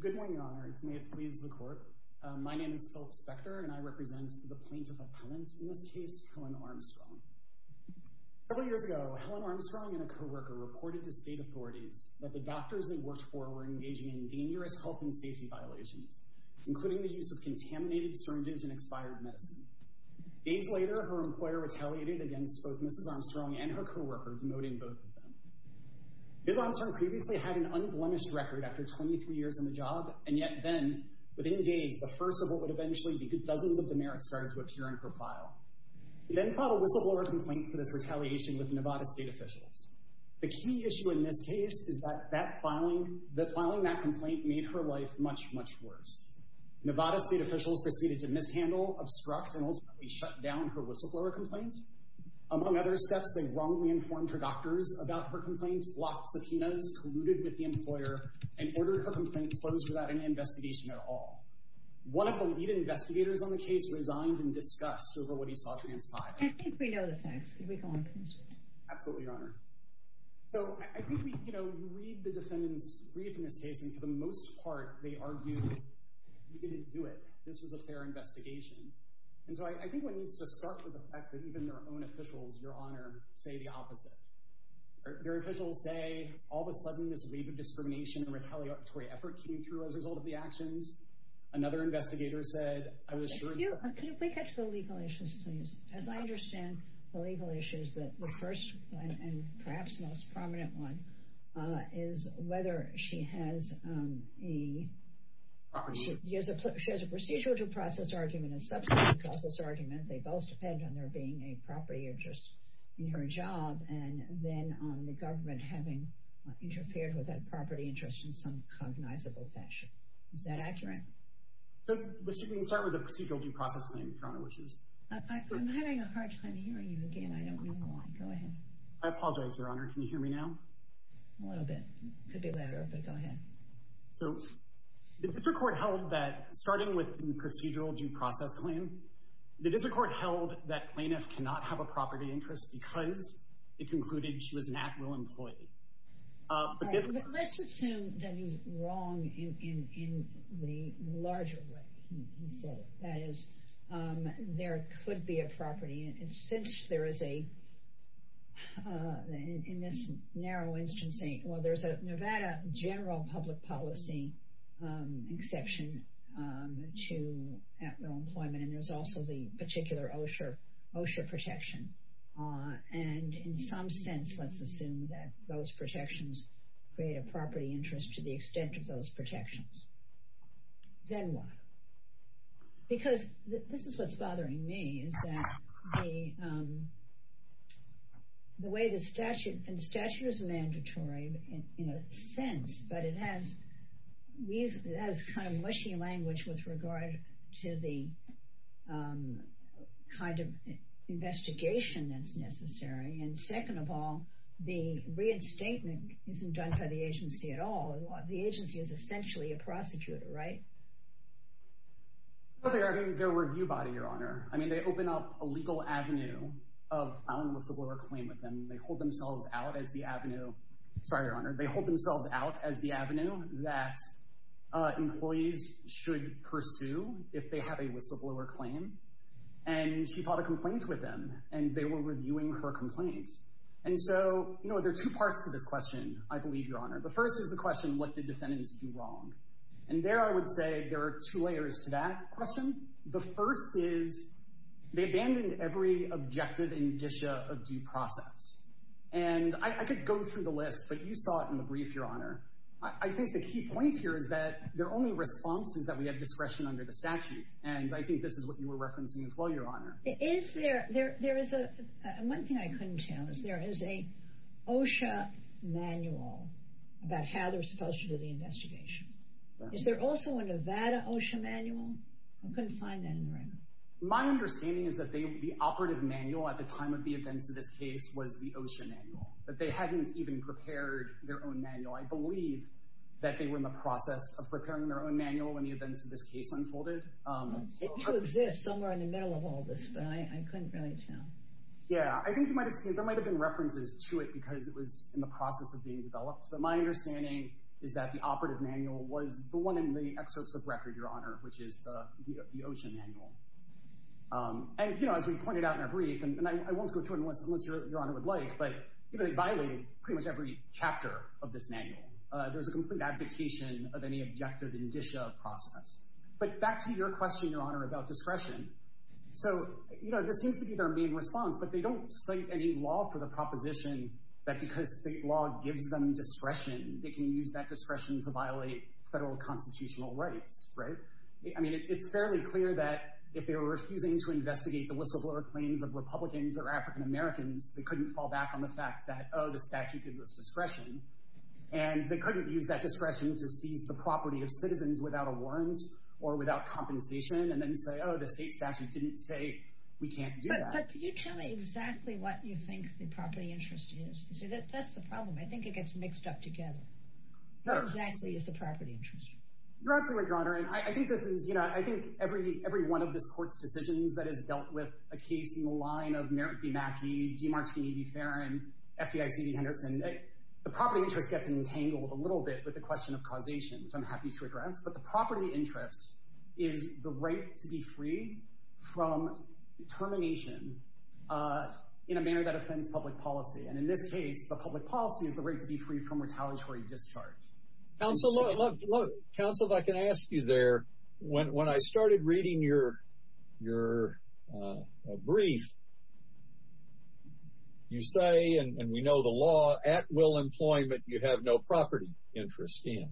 Good morning, Your Honors. May it please the Court. My name is Philip Spector, and I represent the plaintiff-appellant in this case, Helen Armstrong. Several years ago, Helen Armstrong and a co-worker reported to state authorities that the doctors they worked for were engaging in dangerous health and safety violations, including the use of contaminated syringes and expired medicine. Days later, her employer retaliated against both Mrs. Armstrong and her co-worker, demoting both of them. Ms. Armstrong previously had an unblemished record after 23 years on the job, and yet then, within days, the first of what would eventually be dozens of demerits started to appear in her file. She then filed a whistleblower complaint for this retaliation with Nevada state officials. The key issue in this case is that filing that complaint made her life much, much worse. Nevada state officials proceeded to mishandle, obstruct, and ultimately shut down her whistleblower complaint. Among other steps, they wrongly informed her doctors about her complaint, blocked subpoenas, colluded with the employer, and ordered her complaint closed without any investigation at all. One of the lead investigators on the case resigned in disgust over what he saw transpire. I think we know the facts. Can we go on, please? Absolutely, Your Honor. So I think we, you know, read the defendant's brief in this case, and for the most part, they argued we didn't do it. This was a fair investigation. And so I think one needs to start with the fact that even their own officials, Your Honor, say the opposite. Their officials say, all of a sudden, this wave of discrimination and retaliatory effort came through as a result of the actions. Another investigator said, I was sure— Could we catch the legal issues, please? As I understand the legal issues, the first and perhaps most prominent one is whether she has a procedural due process argument and a substantive process argument. They both depend on there being a property interest in her job and then on the government having interfered with that property interest in some cognizable fashion. Is that accurate? So we can start with the procedural due process thing, Your Honor, which is— I'm having a hard time hearing you again. I don't know why. Go ahead. I apologize, Your Honor. Can you hear me now? A little bit. Could be louder, but go ahead. So the district court held that, starting with the procedural due process claim, the district court held that plaintiff cannot have a property interest because it concluded she was an actual employee. Let's assume that he's wrong in the larger way he said it. That is, there could be a property, and since there is a—in this narrow instance—well, there's a Nevada general public policy exception to actual employment, and there's also the particular OSHA protection. And in some sense, let's assume that those protections create a property interest to the extent of those protections. Then what? Because this is what's bothering me, is that the way the statute—and the statute is mandatory in a sense, but it has kind of mushy language with regard to the kind of investigation that's necessary. And second of all, the reinstatement isn't done by the agency at all. The agency is essentially a prosecutor, right? Well, they are their review body, Your Honor. I mean, they open up a legal avenue of filing a whistleblower claim with them. They hold themselves out as the avenue—sorry, Your Honor—they hold themselves out as the avenue that employees should pursue if they have a whistleblower claim. And she filed a complaint with them, and they were reviewing her complaint. And so, you know, there are two parts to this question, I believe, Your Honor. The first is the question, what did defendants do wrong? And there I would say there are two layers to that question. The first is they abandoned every objective indicia of due process. And I could go through the list, but you saw it in the brief, Your Honor. I think the key point here is that their only response is that we have discretion under the statute. And I think this is what you were referencing as well, Your Honor. Is there—one thing I couldn't tell is there is an OSHA manual about how they're supposed to do the investigation. Is there also a Nevada OSHA manual? I couldn't find that in the record. My understanding is that the operative manual at the time of the events of this case was the OSHA manual. But they hadn't even prepared their own manual. I believe that they were in the process of preparing their own manual when the events of this case unfolded. It did exist somewhere in the middle of all this, but I couldn't really tell. Yeah, I think you might have seen—there might have been references to it because it was in the process of being developed. But my understanding is that the operative manual was the one in the excerpts of record, Your Honor, which is the OSHA manual. And, you know, as we pointed out in our brief, and I won't go through it unless Your Honor would like, but they violated pretty much every chapter of this manual. There was a complete abdication of any objective indicia of process. But back to your question, Your Honor, about discretion. So, you know, this seems to be their main response, but they don't cite any law for the proposition that because state law gives them discretion, they can use that discretion to violate federal constitutional rights, right? I mean, it's fairly clear that if they were refusing to investigate the whistleblower claims of Republicans or African Americans, they couldn't fall back on the fact that, oh, the statute gives us discretion. And they couldn't use that discretion to seize the property of citizens without a warrant or without compensation and then say, oh, the state statute didn't say we can't do that. But can you tell me exactly what you think the property interest is? You see, that's the problem. I think it gets mixed up together. What exactly is the property interest? You're absolutely right, Your Honor. I think every one of this court's decisions that has dealt with a case in the line of Merrick v. Mackey, Demartini v. Farron, FDIC v. Henderson, the property interest gets entangled a little bit with the question of causation, which I'm happy to address. But the property interest is the right to be free from termination in a manner that offends public policy. And in this case, the public policy is the right to be free from retaliatory discharge. Counsel, if I can ask you there, when I started reading your brief, you say, and we know the law, at-will employment you have no property interest in.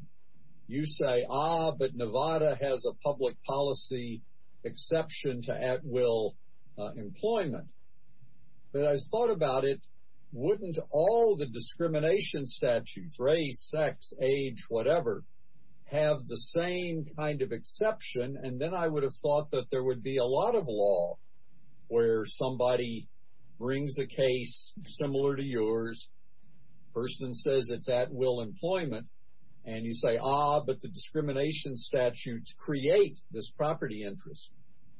You say, ah, but Nevada has a public policy exception to at-will employment. But I thought about it, wouldn't all the discrimination statutes, race, sex, age, whatever, have the same kind of exception? And then I would have thought that there would be a lot of law where somebody brings a case similar to yours, person says it's at-will employment, and you say, ah, but the discrimination statutes create this property interest.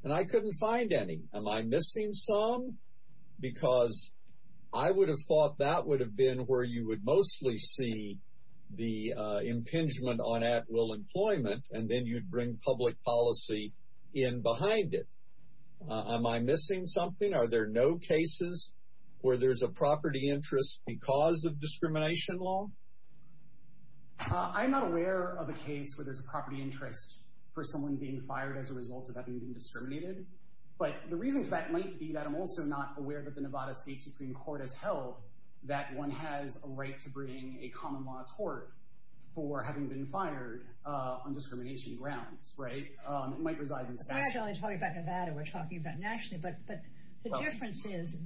And I couldn't find any. Am I missing some? Because I would have thought that would have been where you would mostly see the impingement on at-will employment, and then you'd bring public policy in behind it. Am I missing something? Are there no cases where there's a property interest because of discrimination law? I'm not aware of a case where there's a property interest for someone being fired as a result of having been discriminated. But the reason for that might be that I'm also not aware that the Nevada State Supreme Court has held that one has a right to bring a common law tort for having been fired on discrimination grounds, right? It might reside in the statute. We're actually only talking about Nevada. We're talking about nationally. But the difference is,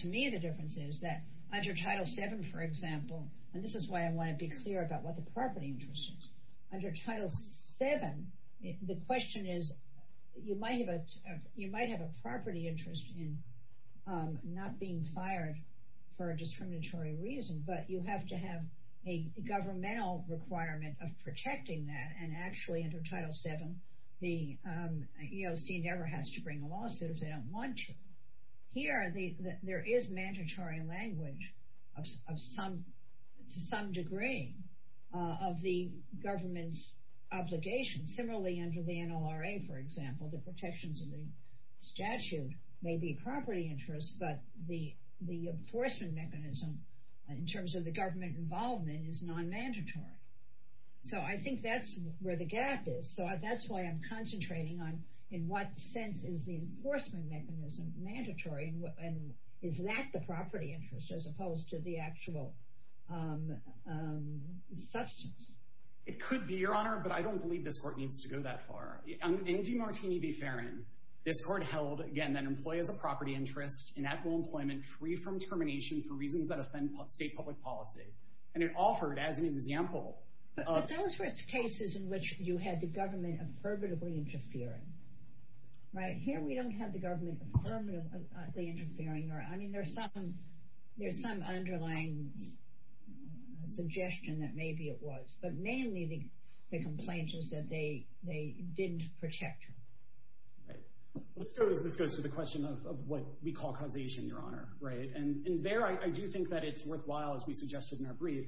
to me, the difference is that under Title VII, for example, and this is why I want to be clear about what the property interest is. Under Title VII, the question is, you might have a property interest in not being fired for a discriminatory reason, but you have to have a governmental requirement of protecting that. And actually, under Title VII, the EOC never has to bring a lawsuit if they don't want to. Here, there is mandatory language to some degree of the government's obligation. Similarly, under the NLRA, for example, the protections of the statute may be property interest, but the enforcement mechanism in terms of the government involvement is non-mandatory. So I think that's where the gap is. So that's why I'm concentrating on in what sense is the enforcement mechanism mandatory, and is that the property interest as opposed to the actual substance? It could be, Your Honor, but I don't believe this court needs to go that far. In DeMartini v. Ferrin, this court held, again, that employees of property interest inactive employment free from discrimination for reasons that offend state public policy. And it offered as an example of Well, those were cases in which you had the government affirmatively interfering. Here, we don't have the government affirmatively interfering. I mean, there's some underlying suggestion that maybe it was. But mainly, the complaint is that they didn't protect you. This goes to the question of what we call causation, Your Honor. And there, I do think that it's worthwhile, as we suggested in our brief,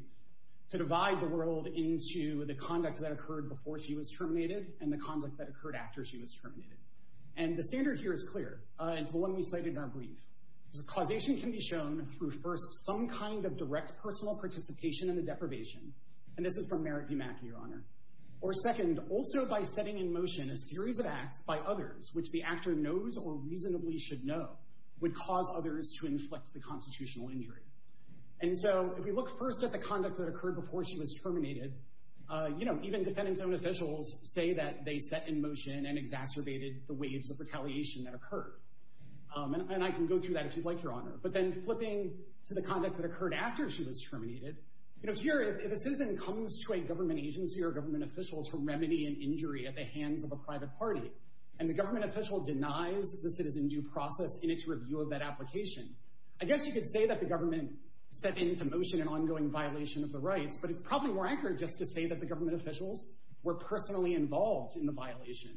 to divide the world into the conduct that occurred before she was terminated and the conduct that occurred after she was terminated. And the standard here is clear. It's the one we cited in our brief. Causation can be shown through, first, some kind of direct personal participation in the deprivation. And this is from Merritt v. Mackey, Your Honor. Or, second, also by setting in motion a series of acts by others which the actor knows or reasonably should know would cause others to inflict the constitutional injury. And so, if we look first at the conduct that occurred before she was terminated, you know, even defendant's own officials say that they set in motion and exacerbated the waves of retaliation that occurred. And I can go through that if you'd like, Your Honor. But then, flipping to the conduct that occurred after she was terminated, you know, here, if a citizen comes to a government agency or a government official to remedy an injury at the hands of a private party, and the government official denies the citizen due process in its review of that application, I guess you could say that the government set into motion an ongoing violation of the rights, but it's probably more accurate just to say that the government officials were personally involved in the violation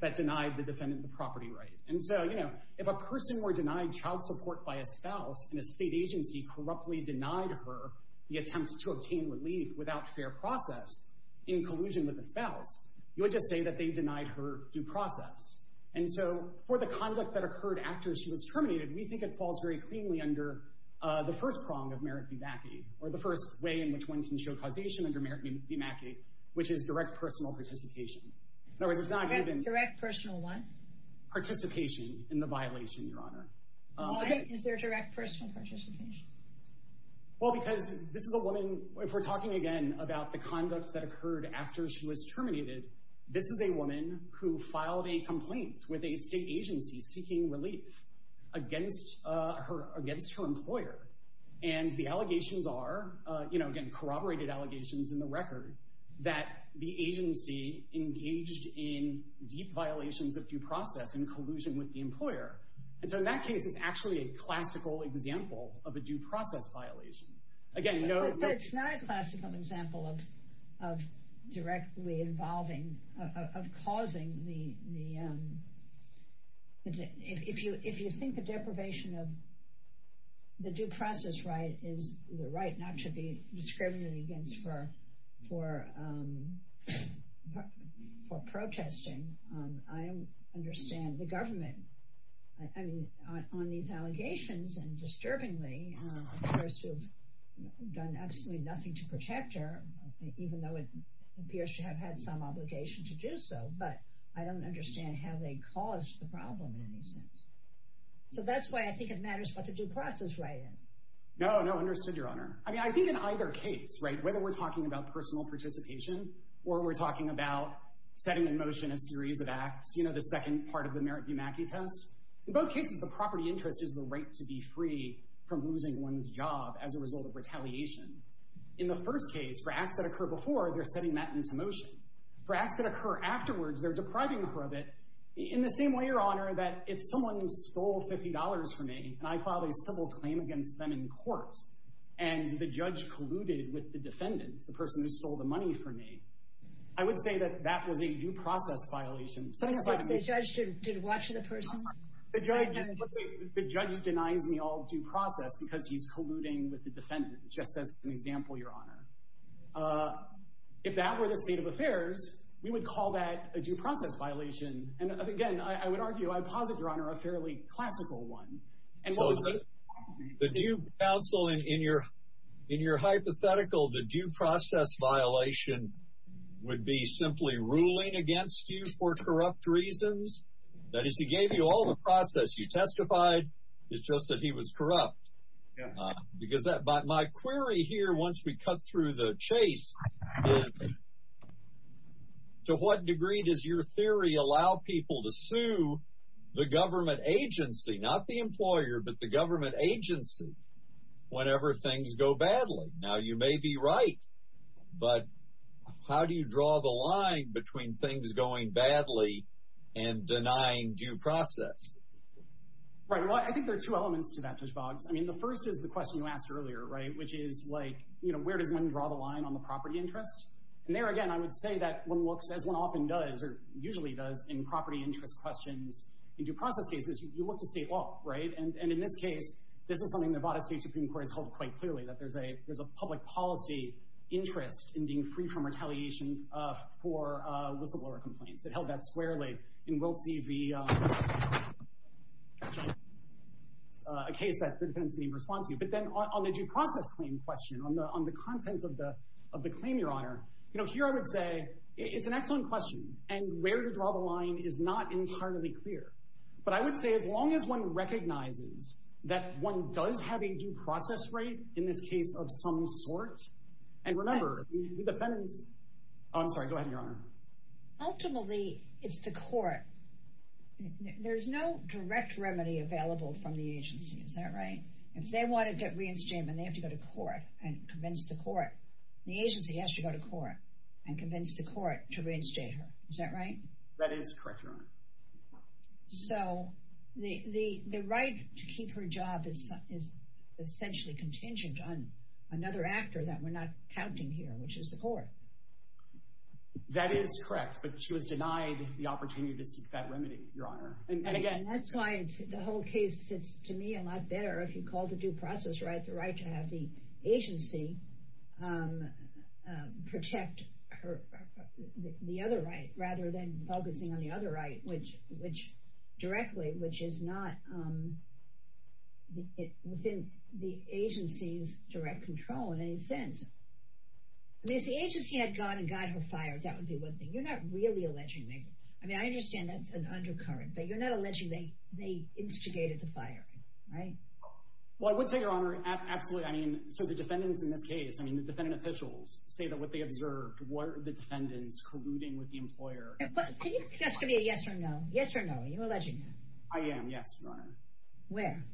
that denied the defendant the property right. And so, you know, if a person were denied child support by a spouse, and a state agency corruptly denied her the attempts to obtain relief without fair process in collusion with the spouse, you would just say that they denied her due process. And so, for the conduct that occurred after she was terminated, we think it falls very cleanly under the first prong of merit v. Mackey, or the first way in which one can show causation under merit v. Mackey, which is direct personal participation. Direct personal what? Participation in the violation, Your Honor. Why is there direct personal participation? Well, because this is a woman, if we're talking again about the conduct that occurred after she was terminated, this is a woman who filed a complaint with a state agency seeking relief against her employer. And the allegations are, you know, again, corroborated allegations in the record, that the agency engaged in deep violations of due process in collusion with the employer. And so in that case, it's actually a classical example of a due process violation. But it's not a classical example of directly involving, of causing the, if you think the deprivation of the due process right is the right not to be discriminated against for protesting, I don't understand the government, I mean, on these allegations, and disturbingly, those who have done absolutely nothing to protect her, even though it appears to have had some obligation to do so, but I don't understand how they caused the problem in any sense. So that's why I think it matters what the due process right is. No, no, understood, Your Honor. I mean, I think in either case, right, whether we're talking about personal participation, or we're talking about setting in motion a series of acts, you know, the second part of the Merritt v. Mackey test, in both cases, the property interest is the right to be free from losing one's job as a result of retaliation. In the first case, for acts that occur before, they're setting that into motion. For acts that occur afterwards, they're depriving her of it, in the same way, Your Honor, that if someone stole $50 from me, and I filed a civil claim against them in court, and the judge colluded with the defendant, the person who stole the money from me, I would say that that was a due process violation. So the judge should watch the person? The judge denies me all due process because he's colluding with the defendant, just as an example, Your Honor. If that were the state of affairs, we would call that a due process violation, and again, I would argue, I posit, Your Honor, a fairly classical one. The due counsel, in your hypothetical, the due process violation would be simply ruling against you for corrupt reasons? That is, he gave you all the process, you testified, it's just that he was corrupt. Because my query here, once we cut through the chase, to what degree does your theory allow people to sue the government agency, not the employer, but the government agency, whenever things go badly? Now, you may be right, but how do you draw the line between things going badly and denying due process? Right, well, I think there are two elements to that, Judge Boggs. I mean, the first is the question you asked earlier, right, which is, like, you know, where does one draw the line on the property interest? And there, again, I would say that one looks, as one often does, or usually does, in property interest questions in due process cases, you look to state law, right? And in this case, this is something the Nevada State Supreme Court has held quite clearly, that there's a public policy interest in being free from retaliation for whistleblower complaints. It held that squarely, and we'll see the case that the defendant's going to respond to. But then on the due process claim question, on the contents of the claim, Your Honor, you know, here I would say it's an excellent question, and where you draw the line is not entirely clear. But I would say as long as one recognizes that one does have a due process rate in this case of some sort, and remember, the defendant's—oh, I'm sorry, go ahead, Your Honor. Ultimately, it's the court. There's no direct remedy available from the agency, is that right? If they want to get reinstated and they have to go to court and convince the court, the agency has to go to court and convince the court to reinstate her, is that right? That is correct, Your Honor. So the right to keep her job is essentially contingent on another actor that we're not counting here, which is the court. That is correct, but she was denied the opportunity to seek that remedy, Your Honor. That's why the whole case sits, to me, a lot better if you call the due process right the right to have the agency protect the other right rather than focusing on the other right directly, which is not within the agency's direct control in any sense. I mean, if the agency had gone and got her fired, that would be one thing. You're not really alleging anything. I mean, I understand that's an undercurrent, but you're not alleging they instigated the firing, right? Well, I would say, Your Honor, absolutely. I mean, so the defendants in this case, I mean, the defendant officials say that what they observed were the defendants colluding with the employer. Can you just give me a yes or no? Yes or no? Are you alleging that? I am, yes, Your Honor. Where?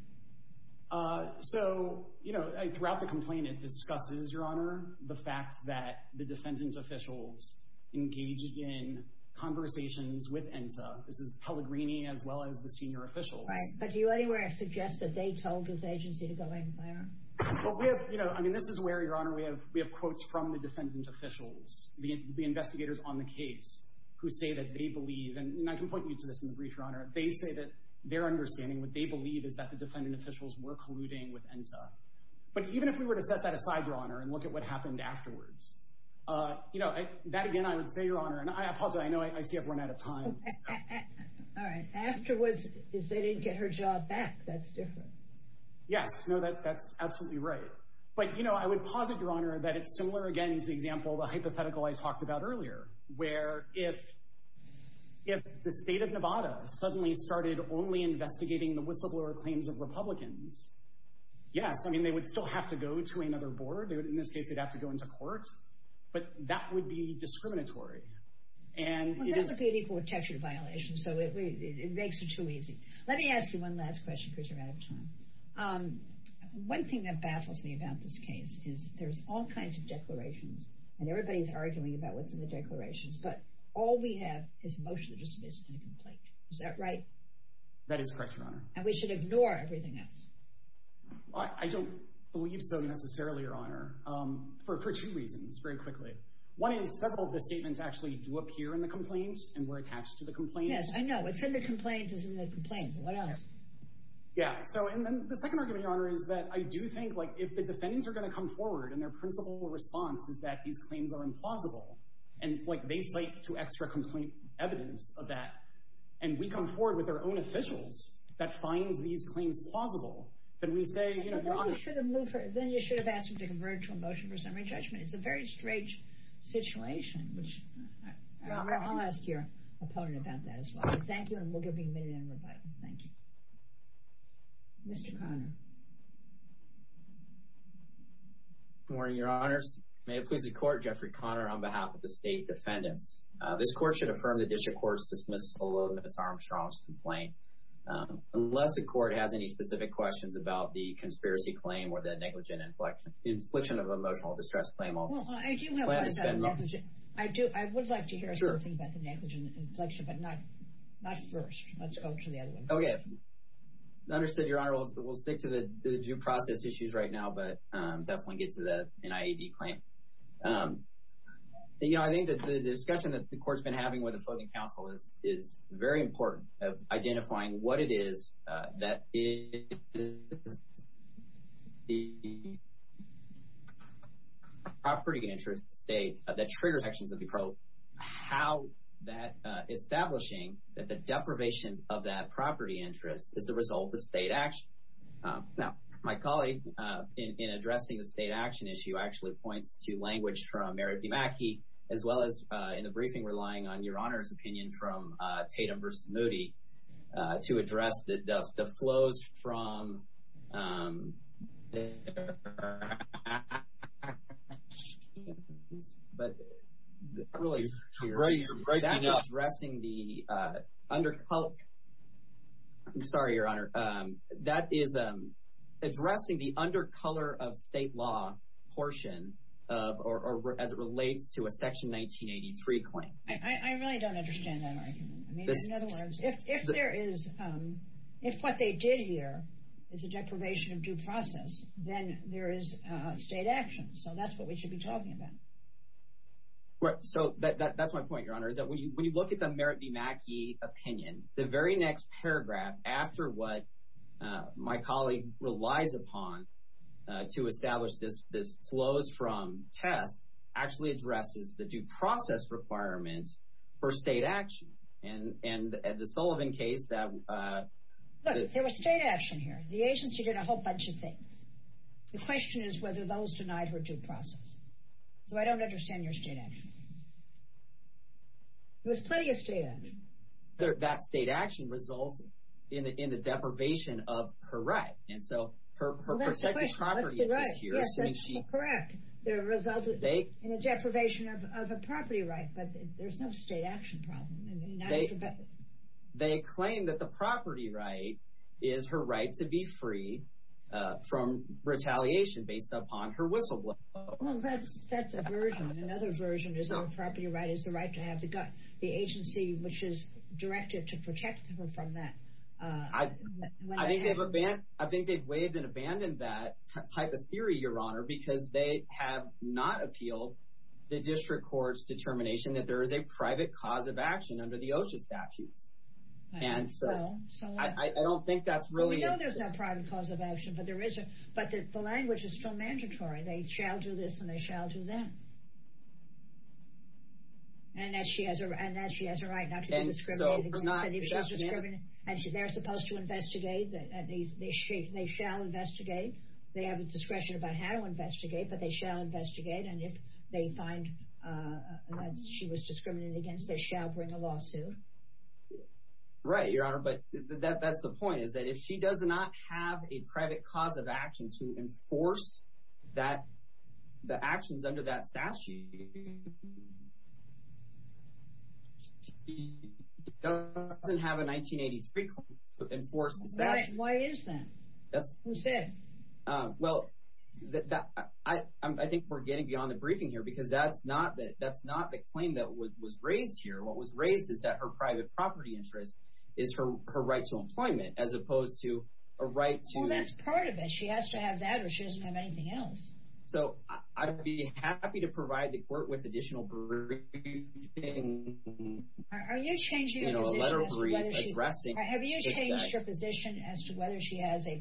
So, you know, throughout the complaint, it discusses, Your Honor, the fact that the defendant officials engaged in conversations with ENSA. This is Pellegrini as well as the senior officials. Right, but do you anywhere suggest that they told this agency to go and fire them? Well, we have, you know, I mean, this is where, Your Honor, we have quotes from the defendant officials, the investigators on the case, who say that they believe, and I can point you to this in the brief, Your Honor, they say that their understanding, what they believe, is that the defendant officials were colluding with ENSA. But even if we were to set that aside, Your Honor, and look at what happened afterwards, you know, that again, I would say, Your Honor, and I apologize, I know I see I've run out of time. All right, afterwards is they didn't get her job back. That's different. Yes. No, that's absolutely right. But, you know, I would posit, Your Honor, that it's similar, again, to the example, the hypothetical I talked about earlier, where if the state of Nevada suddenly started only investigating the whistleblower claims of Republicans, yes, I mean, they would still have to go to another board. In this case, they'd have to go into court. But that would be discriminatory. Well, that's a pretty court-textured violation, so it makes it too easy. Let me ask you one last question, because you're out of time. One thing that baffles me about this case is there's all kinds of declarations, and everybody's arguing about what's in the declarations, but all we have is motion to dismiss and a complaint. Is that right? That is correct, Your Honor. And we should ignore everything else. I don't believe so, necessarily, Your Honor, for two reasons, very quickly. One is several of the statements actually do appear in the complaints and were attached to the complaints. Yes, I know. It's in the complaints, it's in the complaint. What else? Yeah, so, and then the second argument, Your Honor, is that I do think, like, if the defendants are going to come forward and their principal response is that these claims are implausible, and, like, they cite two extra complaint evidence of that, and we come forward with our own officials that find these claims plausible, then we say, you know, Your Honor— Then you should have asked them to convert to a motion for summary judgment. It's a very strange situation. I'll ask your opponent about that as well. Thank you, and we'll give you a minute in rebuttal. Thank you. Mr. Conner. Good morning, Your Honors. May it please the Court, Jeffrey Conner on behalf of the State Defendants. This Court should affirm the District Court's dismissal of Ms. Armstrong's complaint, unless the Court has any specific questions about the conspiracy claim or the negligent inflection of emotional distress claim. Well, I do have one. I do. I would like to hear something about the negligent inflection, but not first. Let's go to the other one. Okay. Understood, Your Honor. We'll stick to the due process issues right now, but definitely get to the NIAD claim. You know, I think that the discussion that the Court's been having with opposing counsel is very important, identifying what it is that is the property interest of the state that triggers actions of the probe, how that establishing that the deprivation of that property interest is the result of state action. Now, my colleague in addressing the state action issue actually points to language from Merritt DiMacchi, as well as in the briefing relying on Your Honor's opinion from Tatum v. Moody to address the flows from their actions. I'm sorry, Your Honor. That is addressing the undercolor of state law portion as it relates to a Section 1983 claim. I really don't understand that argument. In other words, if what they did here is a deprivation of due process, then there is state action. So that's what we should be talking about. So that's my point, Your Honor, is that when you look at the Merritt DiMacchi opinion, the very next paragraph after what my colleague relies upon to establish this flows from test actually addresses the due process requirement for state action. And the Sullivan case that— Look, there was state action here. The agency did a whole bunch of things. The question is whether those denied her due process. So I don't understand your state action. There was plenty of state action. That state action results in the deprivation of her right. And so her protected property is here. Yes, that's correct. There resulted in a deprivation of a property right, but there's no state action problem. They claim that the property right is her right to be free from retaliation based upon her whistleblower. Well, that's a version. Another version is the property right is the right to have the agency which is directed to protect her from that. I think they've waived and abandoned that type of theory, Your Honor, because they have not appealed the district court's determination that there is a private cause of action under the OSHA statutes. And so I don't think that's really— Well, we know there's no private cause of action, but the language is still mandatory. They shall do this and they shall do that. And that she has a right not to be discriminated against. And they're supposed to investigate. They shall investigate. They have a discretion about how to investigate, but they shall investigate. And if they find that she was discriminated against, they shall bring a lawsuit. Right, Your Honor. But that's the point, is that if she does not have a private cause of action to enforce the actions under that statute, she doesn't have a 1983 enforced statute. Why is that? Who said? Well, I think we're getting beyond the briefing here because that's not the claim that was raised here. What was raised is that her private property interest is her right to employment as opposed to a right to— Well, that's part of it. She has to have that or she doesn't have anything else. So I'd be happy to provide the court with additional briefing— Are you changing your position as to whether she—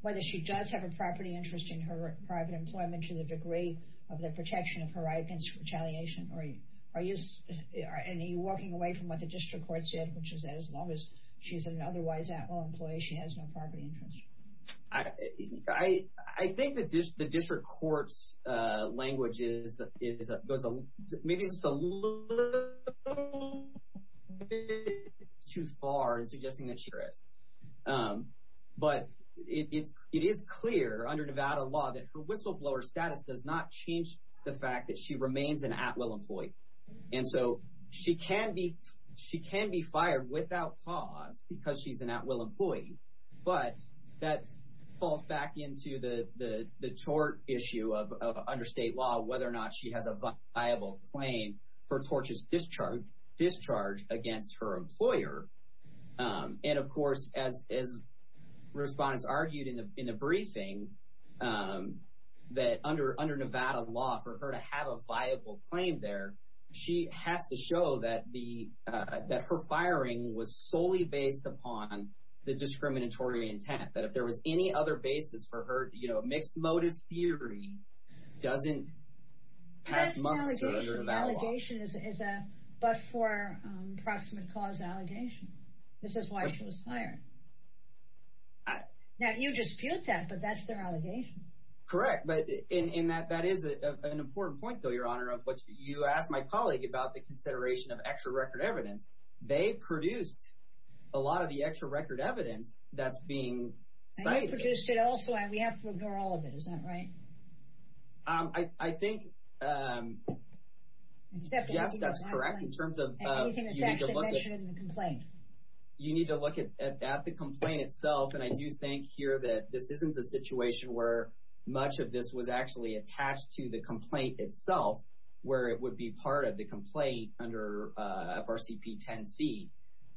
whether she does have a property interest in her private employment to the degree of the protection of her right against retaliation? Are you walking away from what the district court said, which is that as long as she's an otherwise at-will employee, she has no property interest? I think the district court's language is— maybe it's a little bit too far in suggesting that she rest. But it is clear under Nevada law that her whistleblower status does not change the fact that she remains an at-will employee. And so she can be fired without cause because she's an at-will employee, but that falls back into the tort issue of under state law, whether or not she has a viable claim for tortious discharge against her employer. And, of course, as respondents argued in the briefing, that under Nevada law for her to have a viable claim there, she has to show that her firing was solely based upon the discriminatory intent, that if there was any other basis for her— mixed-modus theory doesn't pass muster under Nevada law. So the allegation is a but-for-approximate-cause allegation. This is why she was fired. Now, you dispute that, but that's their allegation. Correct, but—and that is an important point, though, Your Honor, of what you asked my colleague about the consideration of extra record evidence. They produced a lot of the extra record evidence that's being cited. And they produced it also, and we have to ignore all of it. Is that right? I think— Yes, that's correct. In terms of— Anything that's actually mentioned in the complaint. You need to look at the complaint itself, and I do think here that this isn't a situation where much of this was actually attached to the complaint itself, where it would be part of the complaint under FRCP 10-C.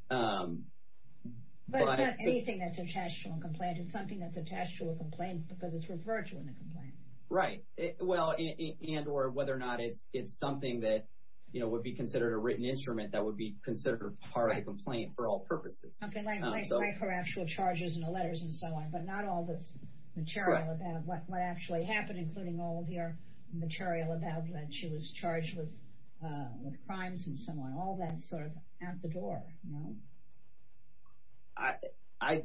But it's not anything that's attached to a complaint. It's something that's attached to a complaint because it's referred to in the complaint. Right. Well, and or whether or not it's something that would be considered a written instrument that would be considered part of the complaint for all purposes. Something like her actual charges and the letters and so on, but not all this material about what actually happened, including all of your material about that she was charged with crimes and so on. All that's sort of out the door, no? I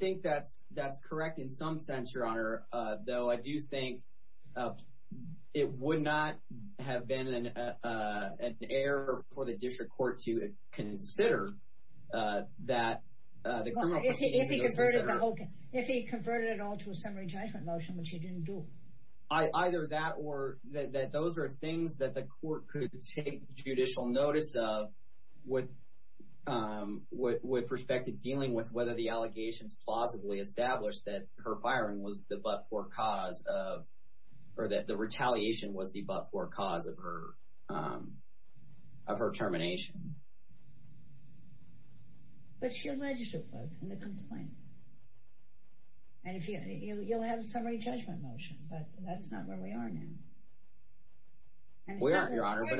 think that's correct in some sense, Your Honor, though I do think it would not have been an error for the district court to consider that the criminal proceedings— If he converted it all to a summary judgment motion, which he didn't do. Either that or that those are things that the court could take judicial notice of with respect to dealing with whether the allegations plausibly established that her firing was the but-for cause of— or that the retaliation was the but-for cause of her termination. But she alleged it was in the complaint. And you'll have a summary judgment motion, but that's not where we are now. We aren't, Your Honor. But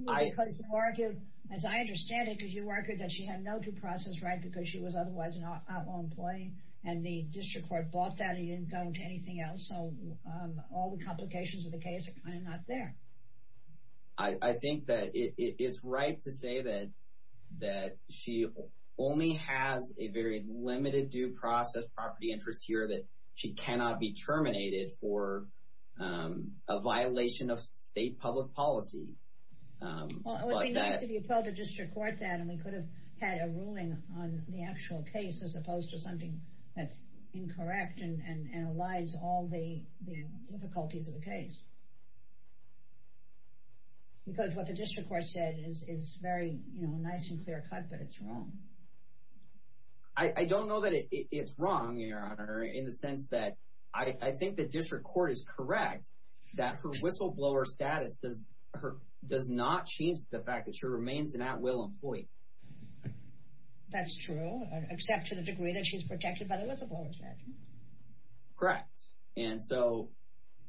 you argued, as I understand it, because you argued that she had no due process right because she was otherwise an outlaw employee, and the district court bought that and you didn't go into anything else. So all the complications of the case are kind of not there. I think that it's right to say that she only has a very limited due process property interest here that she cannot be terminated for a violation of state public policy. Well, it would be nice if you told the district court that and we could have had a ruling on the actual case as opposed to something that's incorrect and allies all the difficulties of the case. Because what the district court said is very nice and clear-cut, but it's wrong. I don't know that it's wrong, Your Honor, in the sense that I think the district court is correct that her whistleblower status does not change the fact that she remains an at-will employee. That's true, except to the degree that she's protected by the whistleblower statute. Correct. And so...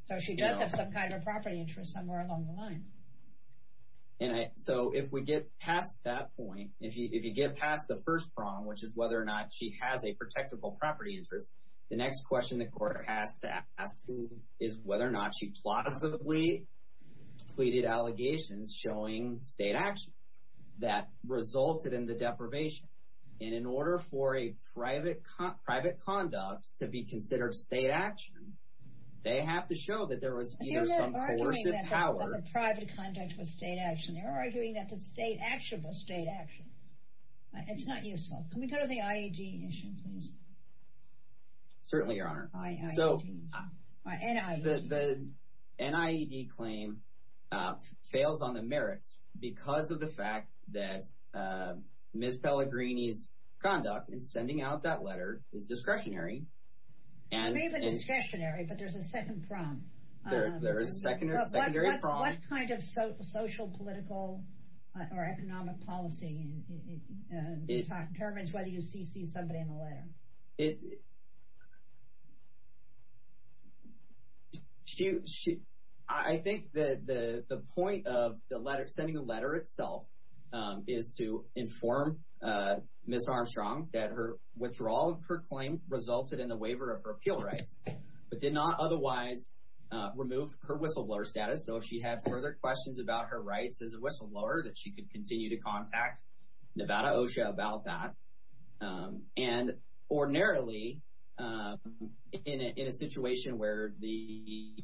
So she does have some kind of a property interest somewhere along the line. And so if we get past that point, if you get past the first prong, which is whether or not she has a protectable property interest, the next question the court has to ask is whether or not she plausibly pleaded allegations showing state action that resulted in the deprivation. And in order for a private conduct to be considered state action, they have to show that there was either some coercive power... They're arguing that the private conduct was state action. They're arguing that the state action was state action. It's not useful. Can we go to the IED issue, please? Certainly, Your Honor. IED. The NIED claim fails on the merits because of the fact that Ms. Pellegrini's conduct in sending out that letter is discretionary. It may have been discretionary, but there's a second prong. There is a secondary prong. What kind of social, political, or economic policy determines whether you CC somebody in a letter? I think the point of sending a letter itself is to inform Ms. Armstrong that her withdrawal of her claim resulted in the waiver of her appeal rights, but did not otherwise remove her whistleblower status. So if she had further questions about her rights as a whistleblower, that she could continue to contact Nevada OSHA about that. And ordinarily, in a situation where the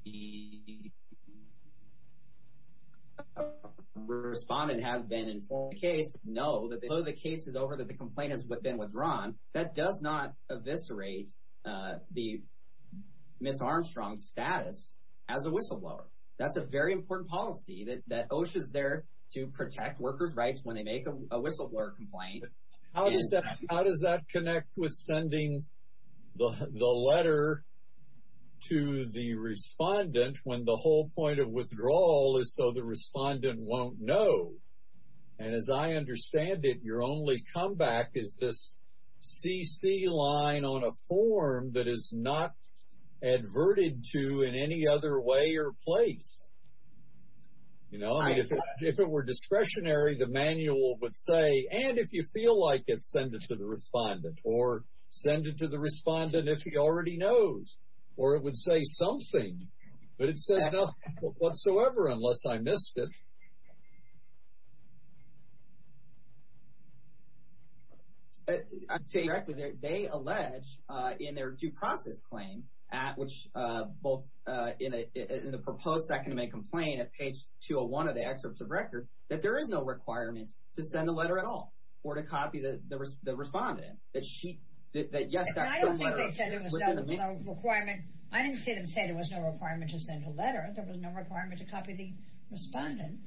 respondent has been informed of the case, know that the case is over, that the complaint has been withdrawn, that does not eviscerate Ms. Armstrong's status as a whistleblower. That's a very important policy that OSHA is there to protect workers' rights when they make a whistleblower complaint. How does that connect with sending the letter to the respondent when the whole point of withdrawal is so the respondent won't know? And as I understand it, your only comeback is this CC line on a form that is not adverted to in any other way or place. If it were discretionary, the manual would say, and if you feel like it, send it to the respondent. Or send it to the respondent if he already knows. Or it would say something, but it says nothing whatsoever unless I missed it. I'll tell you directly, they allege in their due process claim, at which both in the proposed 2nd Amendment complaint at page 201 of the excerpts of record, that there is no requirement to send a letter at all or to copy the respondent. I don't think they said there was no requirement. I didn't see them say there was no requirement to send a letter. There was no requirement to copy the respondent.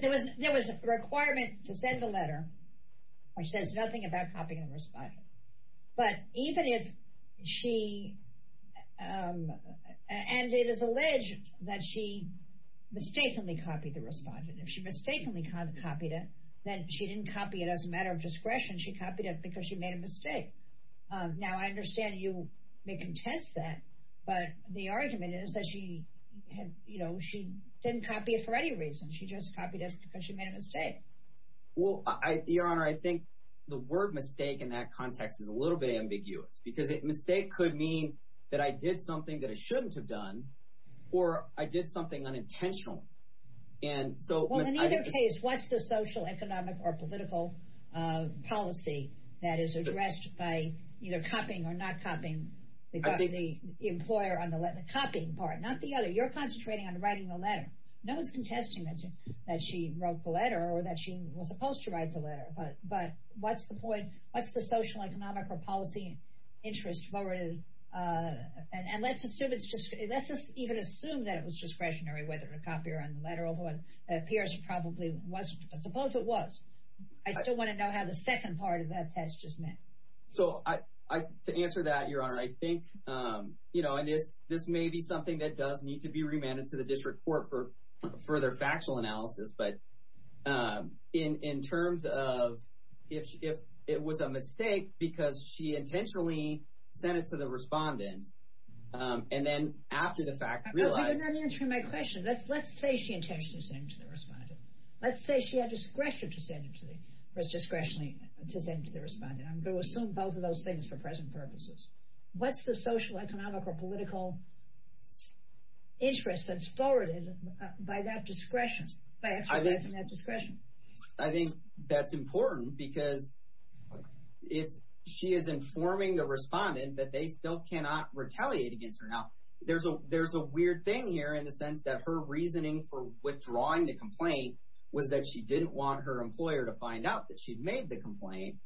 There was a requirement to send a letter which says nothing about copying the respondent. And it is alleged that she mistakenly copied the respondent. If she mistakenly copied it, then she didn't copy it as a matter of discretion. She copied it because she made a mistake. Now I understand you may contest that, but the argument is that she didn't copy it for any reason. She just copied it because she made a mistake. Well, Your Honor, I think the word mistake in that context is a little bit ambiguous. Because mistake could mean that I did something that I shouldn't have done, or I did something unintentionally. Well, in either case, what's the social, economic, or political policy that is addressed by either copying or not copying the employer on the letter? The copying part, not the other. You're concentrating on writing the letter. No one's contesting that she wrote the letter or that she was supposed to write the letter. But what's the point? What's the social, economic, or policy interest? And let's even assume that it was discretionary whether to copy or not the letter, although it appears it probably wasn't. But suppose it was. I still want to know how the second part of that test just meant. So to answer that, Your Honor, I think this may be something that does need to be remanded to the district court for further factual analysis. But in terms of if it was a mistake because she intentionally sent it to the respondent, and then after the fact realized— But you're not answering my question. Let's say she intentionally sent it to the respondent. Let's say she had discretion to send it to the respondent. I'm going to assume both of those things for present purposes. What's the social, economic, or political interest that's forwarded by exercising that discretion? I think that's important because she is informing the respondent that they still cannot retaliate against her. Now, there's a weird thing here in the sense that her reasoning for withdrawing the complaint was that she didn't want her employer to find out that she'd made the complaint.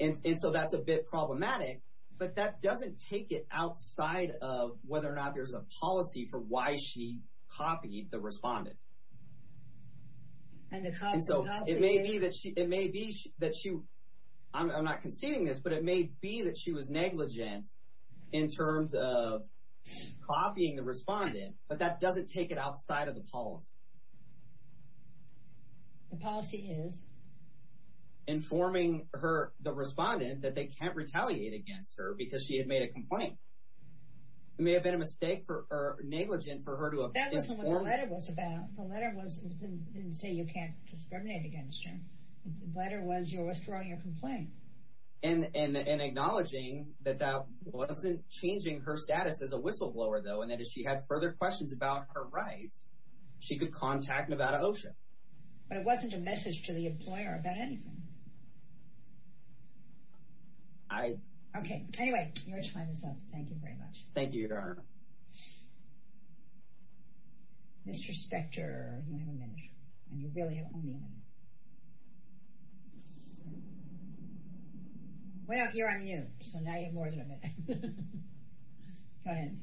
And so that's a bit problematic. But that doesn't take it outside of whether or not there's a policy for why she copied the respondent. And so it may be that she—I'm not conceding this, but it may be that she was negligent in terms of copying the respondent, but that doesn't take it outside of the policy. The policy is? Informing the respondent that they can't retaliate against her because she had made a complaint. It may have been a mistake or negligent for her to have informed— That wasn't what the letter was about. The letter didn't say you can't discriminate against her. The letter was you're withdrawing your complaint. And acknowledging that that wasn't changing her status as a whistleblower, though, and that if she had further questions about her rights, she could contact Nevada OSHA. But it wasn't a message to the employer about anything. I— Okay. Anyway, your time is up. Thank you very much. Thank you, Your Honor. Mr. Spector, you have a minute, and you really have only a minute. Well, you're on mute, so now you have more than a minute. Go ahead.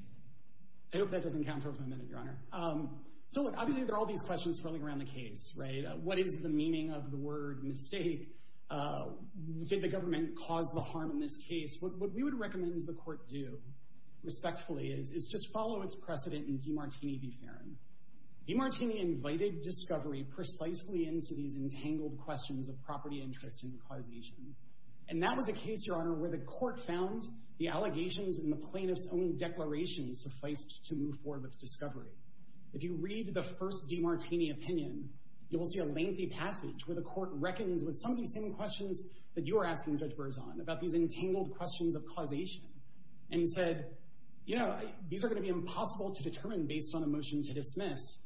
I hope that doesn't count towards my minute, Your Honor. So, look, obviously there are all these questions swirling around the case, right? What is the meaning of the word mistake? Did the government cause the harm in this case? What we would recommend the court do respectfully is just follow its precedent in DiMartini v. Farron. DiMartini invited discovery precisely into these entangled questions of property interest and causation. And that was a case, Your Honor, where the court found the allegations in the plaintiff's own declaration sufficed to move forward with discovery. If you read the first DiMartini opinion, you will see a lengthy passage where the court reckons with some of these same questions that you are asking judge Burzon about these entangled questions of causation. And he said, you know, these are going to be impossible to determine based on a motion to dismiss.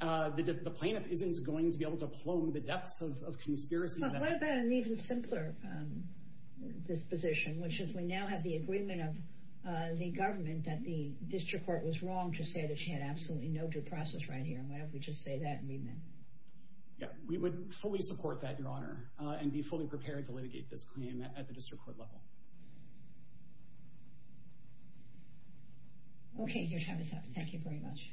The plaintiff isn't going to be able to plumb the depths of conspiracy. But what about an even simpler disposition, which is we now have the agreement of the government that the district court was wrong to say that she had absolutely no due process right here. Why don't we just say that and be met? We would fully support that, Your Honor, and be fully prepared to litigate this claim at the district court level. Okay, your time is up. Thank you very much.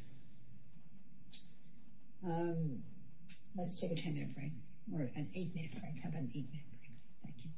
Let's take a 10-minute break. Or an 8-minute break. How about an 8-minute break? Thank you.